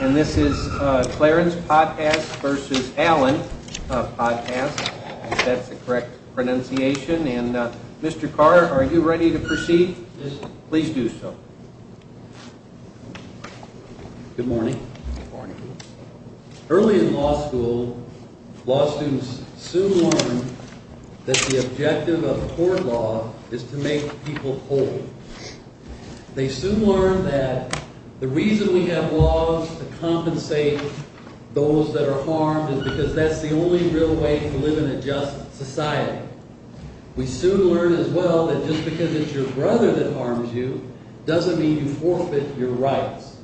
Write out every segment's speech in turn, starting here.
And this is Clarence Potthast v. Allen Potthast, if that's the correct pronunciation. And Mr. Carr, are you ready to proceed? Yes, sir. Please do so. Good morning. Good morning. Early in law school, law students soon learn that the objective of court law is to make people whole. They soon learn that the reason we have laws to compensate those that are harmed is because that's the only real way to live in a just society. We soon learn as well that just because it's your brother that harms you doesn't mean you forfeit your rights.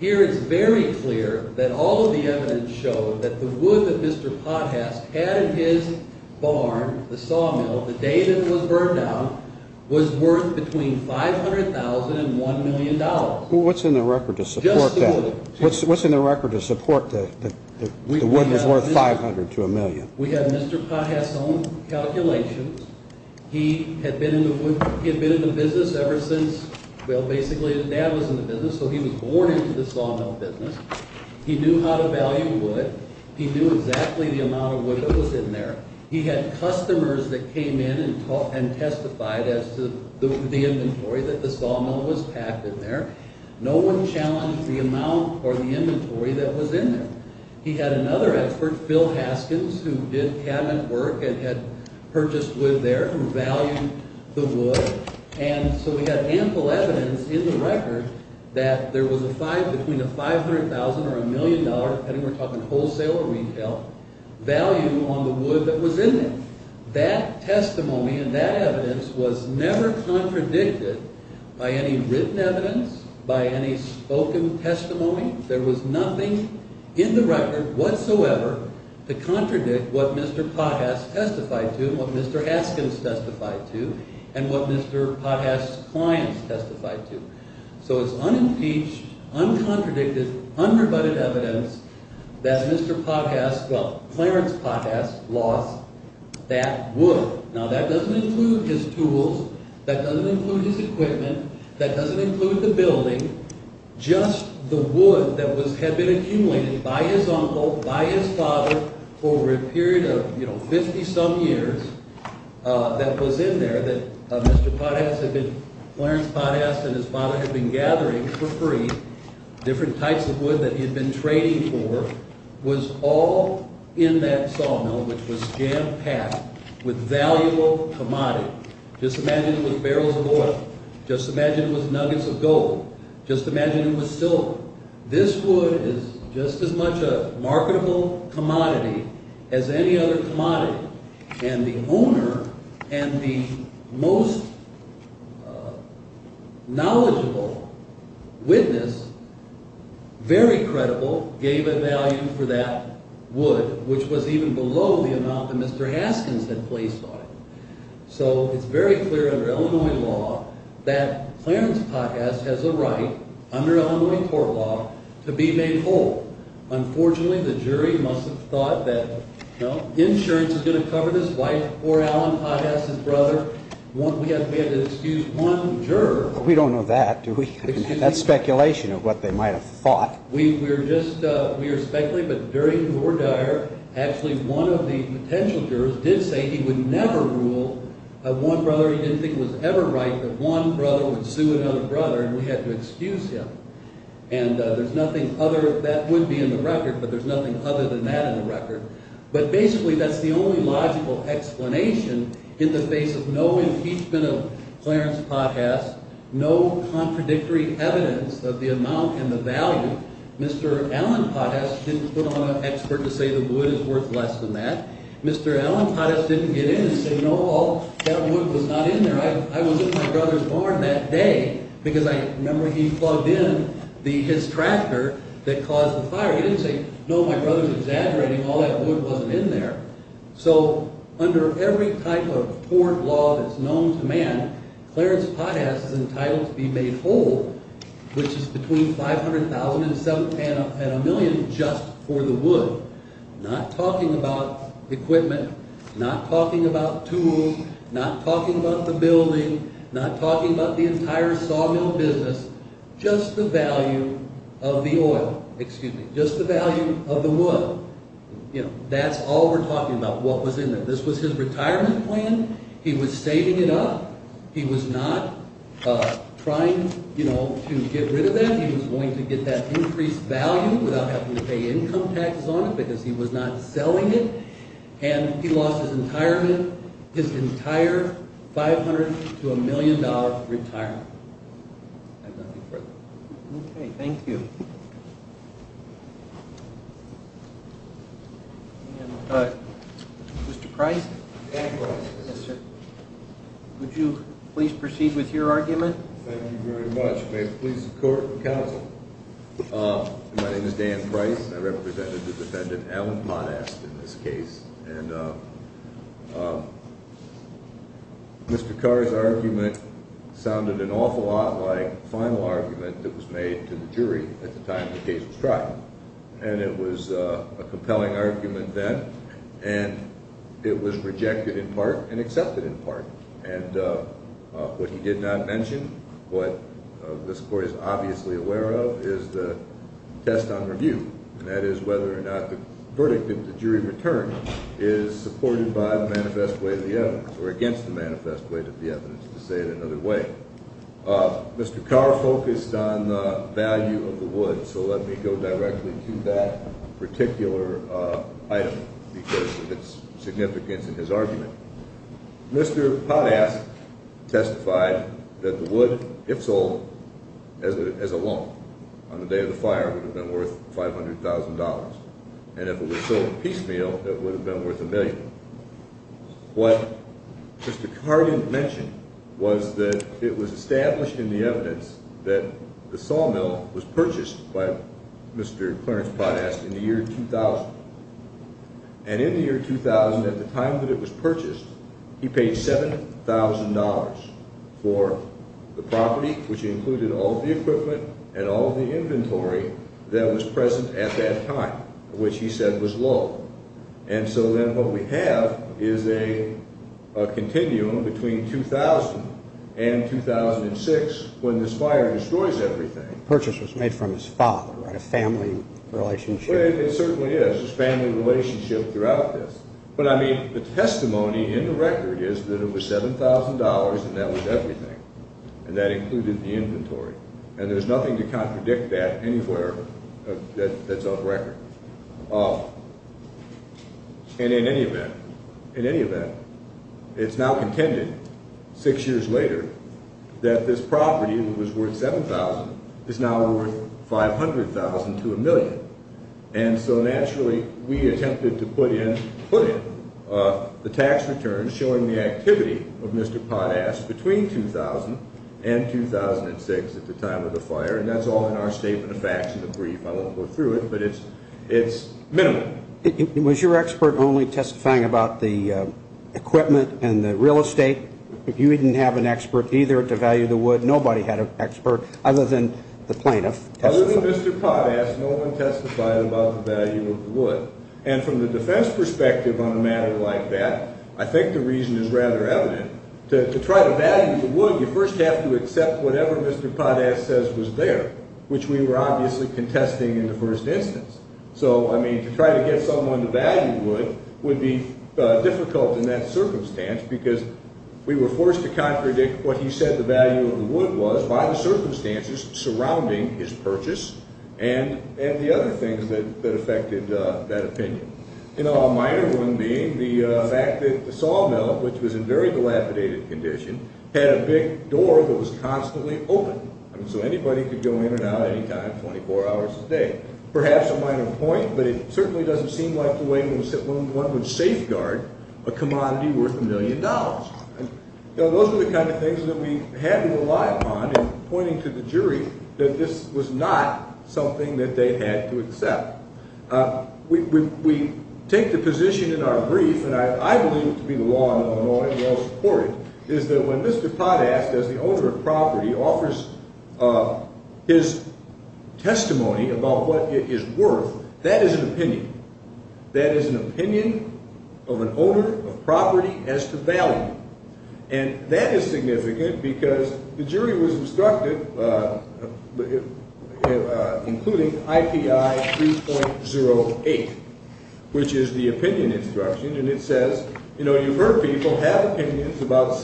Here it's very clear that all of the evidence showed that the wood that Mr. Potthast had in his barn, the sawmill, the day that it was burned down, was worth between $500,000 and $1 million. What's in the record to support that? Just the wood. What's in the record to support that the wood was worth $500,000 to $1 million? We have Mr. Potthast's own calculations. He had been in the business ever since, well, basically his dad was in the business, so he was born into the sawmill business. He knew how to value wood. He knew exactly the amount of wood that was in there. He had customers that came in and testified as to the inventory that the sawmill was packed in there. No one challenged the amount or the inventory that was in there. He had another expert, Phil Haskins, who did cabinet work and had purchased wood there and valued the wood. And so he had ample evidence in the record that there was between a $500,000 or $1 million, depending on whether we're talking wholesale or retail, value on the wood that was in there. That testimony and that evidence was never contradicted by any written evidence, by any spoken testimony. There was nothing in the record whatsoever to contradict what Mr. Potthast testified to, what Mr. Haskins testified to, and what Mr. Potthast's clients testified to. So it's unimpeached, uncontradicted, unrebutted evidence that Mr. Potthast, well, Clarence Potthast, lost that wood. Now, that doesn't include his tools. That doesn't include his equipment. That doesn't include the building. Just the wood that had been accumulated by his uncle, by his father for a period of, you know, 50-some years that was in there that Mr. Potthast had been – Clarence Potthast and his father had been gathering for free different types of wood that he had been trading for was all in that sawmill, which was jam-packed with valuable commodity. Just imagine it was barrels of oil. Just imagine it was nuggets of gold. Just imagine it was silver. This wood is just as much a marketable commodity as any other commodity. And the owner and the most knowledgeable witness, very credible, gave a value for that wood, which was even below the amount that Mr. Haskins had placed on it. So it's very clear under Illinois law that Clarence Potthast has a right, under Illinois court law, to be made whole. Unfortunately, the jury must have thought that, you know, insurance is going to cover this wife, poor Alan Potthast's brother. We had to excuse one juror. We don't know that, do we? That's speculation of what they might have thought. We were just – we were speculating, but during the war dire, actually one of the potential jurors did say he would never rule one brother. He didn't think it was ever right that one brother would sue another brother, and we had to excuse him. And there's nothing other – that would be in the record, but there's nothing other than that in the record. But basically that's the only logical explanation in the face of no impeachment of Clarence Potthast, no contradictory evidence of the amount and the value. Mr. Alan Potthast didn't put on an expert to say the wood is worth less than that. Mr. Alan Potthast didn't get in and say, no, that wood was not in there. I was in my brother's barn that day because I remember he plugged in his tractor that caused the fire. He didn't say, no, my brother's exaggerating, all that wood wasn't in there. So under every type of court law that's known to man, Clarence Potthast is entitled to be made whole, which is between $500,000 and a million just for the wood. Not talking about equipment, not talking about tools, not talking about the building, not talking about the entire sawmill business, just the value of the wood. That's all we're talking about, what was in there. This was his retirement plan. He was saving it up. He was not trying to get rid of that. He was going to get that increased value without having to pay income taxes on it because he was not selling it. And he lost his entire $500,000 to a million dollar retirement. I have nothing further. Okay, thank you. Mr. Price, would you please proceed with your argument? Thank you very much. May it please the court and counsel. My name is Dan Price. I represented the defendant, Alan Potthast, in this case. Mr. Carr's argument sounded an awful lot like the final argument that was made to the jury at the time the case was tried. And it was a compelling argument then, and it was rejected in part and accepted in part. And what he did not mention, what this court is obviously aware of, is the test on review. And that is whether or not the verdict of the jury return is supported by the manifest way of the evidence or against the manifest way of the evidence, to say it another way. Mr. Carr focused on the value of the wood, so let me go directly to that particular item because of its significance in his argument. Mr. Potthast testified that the wood, if sold as a lump on the day of the fire, would have been worth $500,000. And if it was sold piecemeal, it would have been worth a million. What Mr. Carr didn't mention was that it was established in the evidence that the sawmill was purchased by Mr. Clarence Potthast in the year 2000. And in the year 2000, at the time that it was purchased, he paid $7,000 for the property, which included all of the equipment and all of the inventory that was present at that time, which he said was low. And so then what we have is a continuum between 2000 and 2006 when this fire destroys everything. The purchase was made from his father, right, a family relationship. Well, it certainly is. There's family relationship throughout this. But, I mean, the testimony in the record is that it was $7,000 and that was everything, and that included the inventory. And there's nothing to contradict that anywhere that's on record. And in any event, it's now contended, six years later, that this property that was worth $7,000 is now worth $500,000 to a million. And so naturally, we attempted to put in the tax returns showing the activity of Mr. Potthast between 2000 and 2006 at the time of the fire. And that's all in our statement of facts in the brief. I won't go through it, but it's minimal. Was your expert only testifying about the equipment and the real estate? If you didn't have an expert either to value the wood, nobody had an expert other than the plaintiff. Other than Mr. Potthast, no one testified about the value of the wood. And from the defense perspective on a matter like that, I think the reason is rather evident. To try to value the wood, you first have to accept whatever Mr. Potthast says was there, which we were obviously contesting in the first instance. So, I mean, to try to get someone to value wood would be difficult in that circumstance because we were forced to contradict what he said the value of the wood was by the circumstances surrounding his purchase and the other things that affected that opinion. A minor one being the fact that the sawmill, which was in very dilapidated condition, had a big door that was constantly open. So anybody could go in and out any time, 24 hours a day. Perhaps a minor point, but it certainly doesn't seem like the way one would safeguard a commodity worth a million dollars. Those are the kind of things that we had to rely upon in pointing to the jury that this was not something that they had to accept. We take the position in our brief, and I believe it to be the law in Illinois, and we all support it, is that when Mr. Potthast, as the owner of property, offers his testimony about what it is worth, that is an opinion. That is an opinion of an owner of property as to value. And that is significant because the jury was instructed, including IPI 2.08, which is the opinion instruction, and it says, you know, you've heard people have opinions about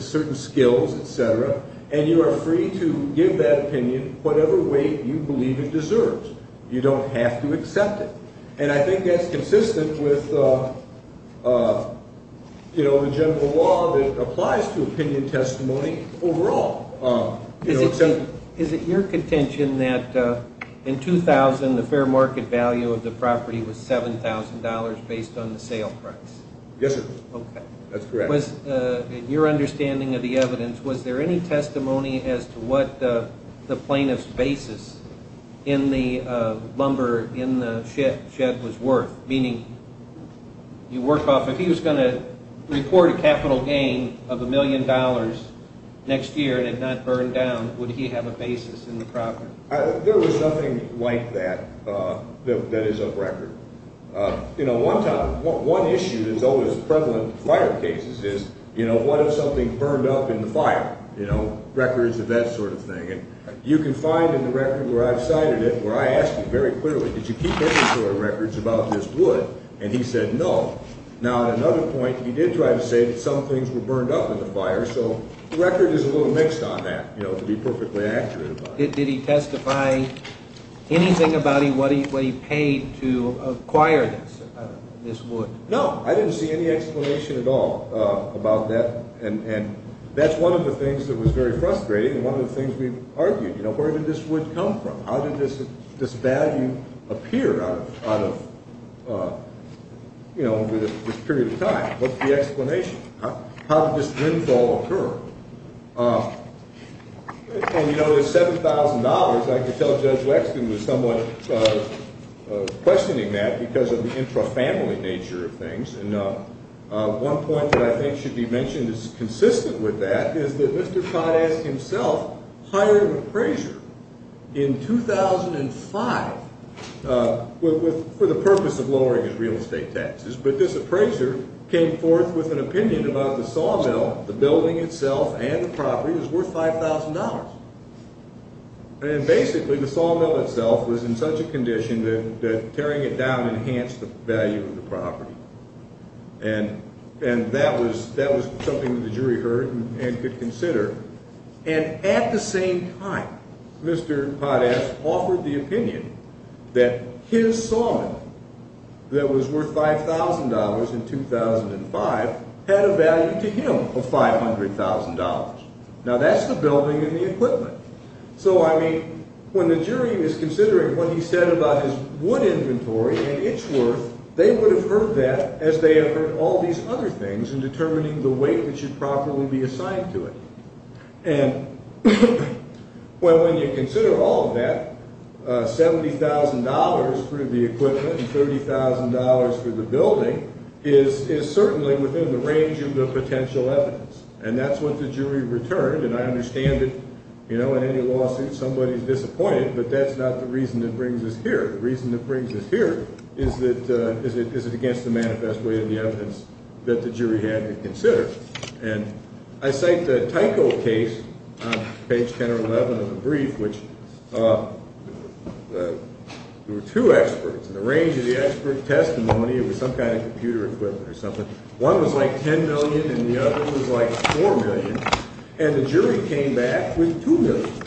certain skills, et cetera, and you are free to give that opinion whatever way you believe it deserves. You don't have to accept it. And I think that's consistent with, you know, the general law that applies to opinion testimony overall. Is it your contention that in 2000 the fair market value of the property was $7,000 based on the sale price? Yes, sir. Okay. That's correct. In your understanding of the evidence, was there any testimony as to what the plaintiff's basis in the lumber in the shed was worth, meaning you work off if he was going to report a capital gain of a million dollars next year and it not burn down, would he have a basis in the property? There was nothing like that that is of record. You know, one issue that's always prevalent in fire cases is, you know, what if something burned up in the fire? You know, records of that sort of thing. And you can find in the record where I've cited it where I asked him very clearly, did you keep any sort of records about this wood? And he said no. Now, at another point, he did try to say that some things were burned up in the fire, so the record is a little mixed on that, you know, to be perfectly accurate about it. Did he testify anything about what he paid to acquire this wood? No. I didn't see any explanation at all about that, and that's one of the things that was very frustrating and one of the things we've argued. You know, where did this wood come from? How did this value appear out of, you know, over this period of time? What's the explanation? How did this dwindle occur? And, you know, this $7,000, I could tell Judge Wexton was somewhat questioning that because of the intrafamily nature of things. And one point that I think should be mentioned that's consistent with that is that Mr. Kottes himself hired an appraiser in 2005 for the purpose of lowering his real estate taxes. But this appraiser came forth with an opinion about the sawmill, the building itself, and the property as worth $5,000. And basically the sawmill itself was in such a condition that tearing it down enhanced the value of the property. And that was something that the jury heard and could consider. And at the same time, Mr. Kottes offered the opinion that his sawmill that was worth $5,000 in 2005 had a value to him of $500,000. Now, that's the building and the equipment. So, I mean, when the jury is considering what he said about his wood inventory and its worth, they would have heard that as they have heard all these other things in determining the weight which should properly be assigned to it. And, well, when you consider all of that, $70,000 for the equipment and $30,000 for the building is certainly within the range of the potential evidence. And that's what the jury returned. And I understand that, you know, in any lawsuit somebody is disappointed, but that's not the reason it brings us here. The reason it brings us here is that it's against the manifest way of the evidence that the jury had to consider. And I cite the Tyco case on page 10 or 11 of the brief, which there were two experts in the range of the expert testimony. It was some kind of computer equipment or something. One was like $10 million and the other was like $4 million. And the jury came back with $2 million.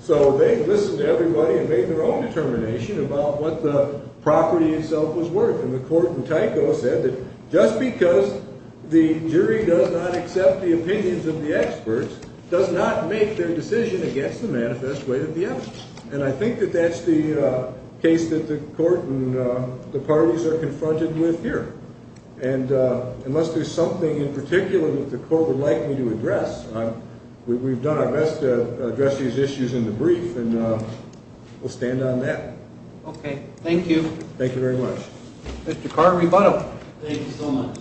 So they listened to everybody and made their own determination about what the property itself was worth. And the court in Tyco said that just because the jury does not accept the opinions of the experts does not make their decision against the manifest way of the evidence. And I think that that's the case that the court and the parties are confronted with here. And unless there's something in particular that the court would like me to address, we've done our best to address these issues in the brief, and we'll stand on that. Okay. Thank you. Thank you very much. Mr. Carter, rebuttal. Thank you so much.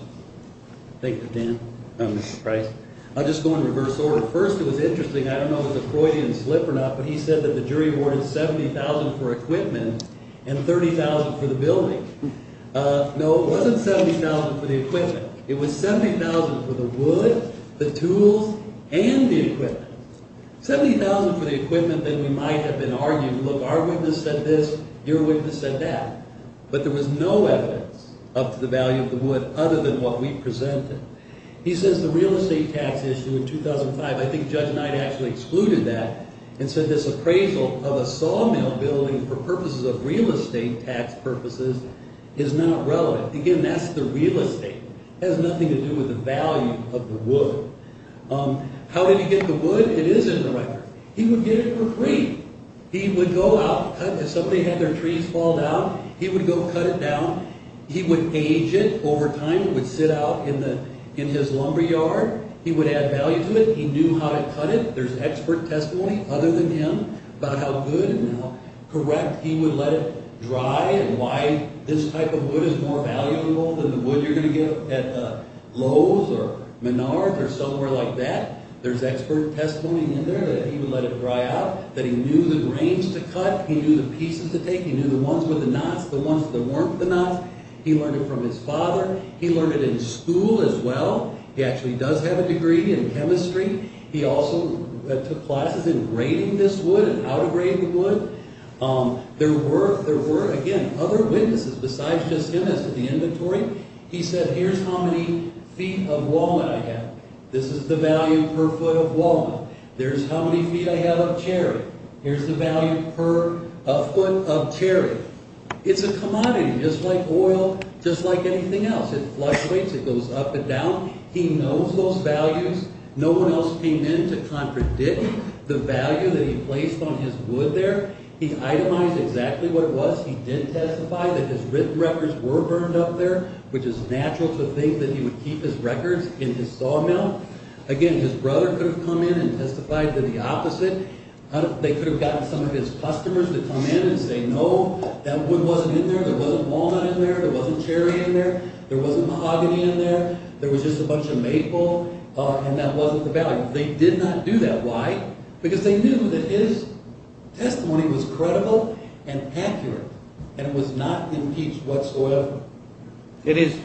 Thank you, Dan. Mr. Price. I'll just go in reverse order. First, it was interesting. I don't know if the Freudian slip or not, but he said that the jury awarded $70,000 for equipment and $30,000 for the building. No, it wasn't $70,000 for the equipment. It was $70,000 for the wood, the tools, and the equipment. $70,000 for the equipment, then we might have been arguing, look, our witness said this, your witness said that. But there was no evidence up to the value of the wood other than what we presented. He says the real estate tax issue in 2005, I think Judge Knight actually excluded that and said this appraisal of a sawmill building for purposes of real estate tax purposes is not relevant. Again, that's the real estate. It has nothing to do with the value of the wood. How did he get the wood? It is in the record. He would get it for free. He would go out, if somebody had their trees fall down, he would go cut it down. He would age it over time. It would sit out in his lumber yard. He would add value to it. He knew how to cut it. There's expert testimony other than him about how good and how correct he would let it dry and why this type of wood is more valuable than the wood you're going to get at Lowe's or Menard's or somewhere like that. There's expert testimony in there that he would let it dry out, that he knew the grains to cut. He knew the pieces to take. He knew the ones with the knots, the ones that weren't the knots. He learned it from his father. He learned it in school as well. He actually does have a degree in chemistry. He also took classes in grading this wood and how to grade the wood. There were, again, other witnesses besides just him as to the inventory. He said, here's how many feet of walnut I have. This is the value per foot of walnut. There's how many feet I have of cherry. Here's the value per foot of cherry. It's a commodity, just like oil, just like anything else. It fluctuates. It goes up and down. He knows those values. No one else came in to contradict the value that he placed on his wood there. He itemized exactly what it was. He did testify that his written records were burned up there, which is natural to think that he would keep his records in his sawmill. Again, his brother could have come in and testified to the opposite. They could have gotten some of his customers to come in and say, no, that wood wasn't in there. There wasn't walnut in there. There wasn't cherry in there. There wasn't mahogany in there. There was just a bunch of maple. That wasn't the value. They did not do that. Why? Because they knew that his testimony was credible and accurate, and it was not impeached whatsoever. Did his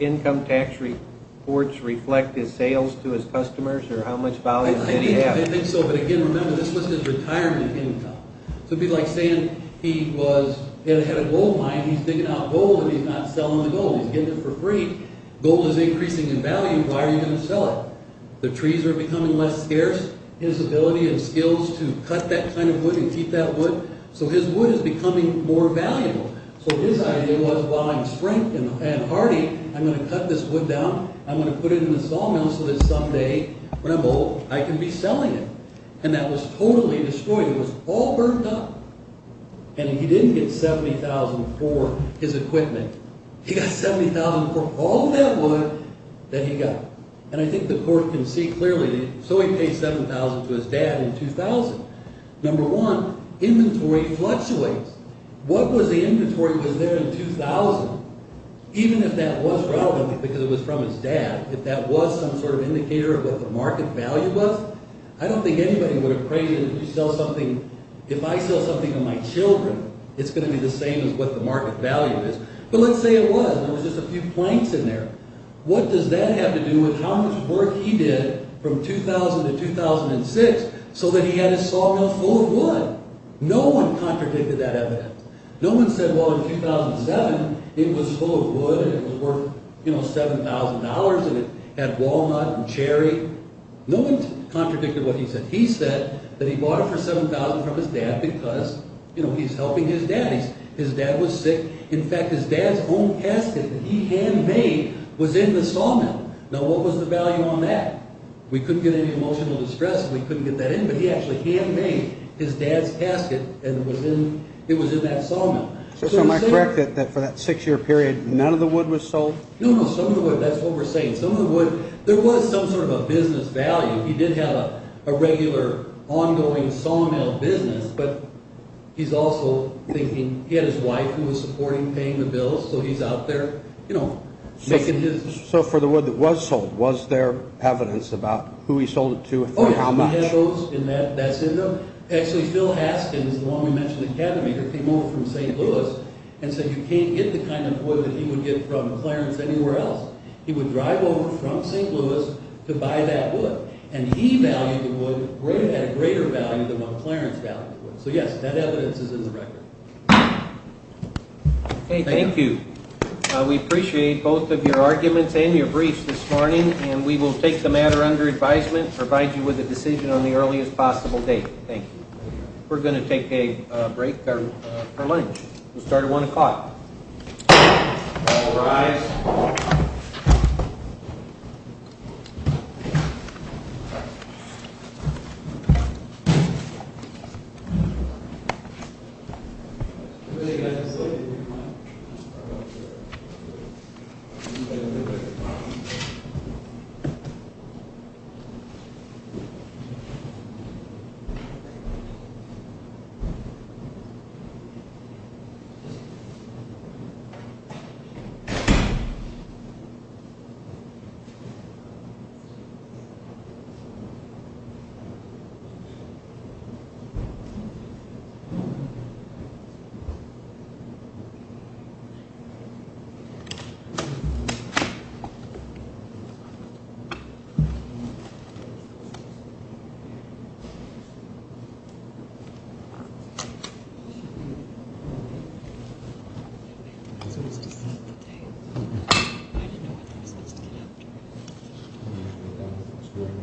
income tax reports reflect his sales to his customers, or how much value did he have? I think so, but again, remember, this was his retirement income. It would be like saying he had a gold mine. He's digging out gold, and he's not selling the gold. He's getting it for free. Gold is increasing in value. Why are you going to sell it? The trees are becoming less scarce. His ability and skills to cut that kind of wood and keep that wood. So his wood is becoming more valuable. So his idea was, while I'm strength and hardy, I'm going to cut this wood down. I'm going to put it in the sawmill so that someday, when I'm old, I can be selling it. And that was totally destroyed. It was all burnt up, and he didn't get $70,000 for his equipment. He got $70,000 for all that wood that he got. And I think the court can see clearly. So he paid $7,000 to his dad in 2000. Number one, inventory fluctuates. What was the inventory that was there in 2000? Even if that was relevant, because it was from his dad, if that was some sort of indicator of what the market value was, I don't think anybody would have crazy enough to sell something. If I sell something to my children, it's going to be the same as what the market value is. But let's say it was, and it was just a few planks in there. What does that have to do with how much work he did from 2000 to 2006 so that he had his sawmill full of wood? No one contradicted that evidence. No one said, well, in 2007, it was full of wood, and it was worth $7,000, and it had walnut and cherry. No one contradicted what he said. He said that he bought it for $7,000 from his dad because he's helping his dad. His dad was sick. In fact, his dad's own casket that he handmade was in the sawmill. Now, what was the value on that? We couldn't get any emotional distress if we couldn't get that in, but he actually handmade his dad's casket, and it was in that sawmill. So am I correct that for that six-year period, none of the wood was sold? No, no, some of the wood. That's what we're saying. Some of the wood, there was some sort of a business value. He did have a regular ongoing sawmill business, but he's also thinking he had his wife who was supporting paying the bills, so he's out there making his business. So for the wood that was sold, was there evidence about who he sold it to and how much? Oh, yeah. He had those, and that's in there. Actually, Phil Haskins, the one we mentioned, the cabin maker, came over from St. Louis and said you can't get the kind of wood that he would get from Clarence anywhere else. He would drive over from St. Louis to buy that wood, and he valued the wood at a greater value than what Clarence valued the wood. So yes, that evidence is in the record. Thank you. We appreciate both of your arguments and your briefs this morning, and we will take the matter under advisement, provide you with a decision on the earliest possible date. Thank you. We're going to take a break for lunch. We'll start at 1 o'clock. All rise. 1 o'clock. I didn't know what I was supposed to get after. 1 o'clock.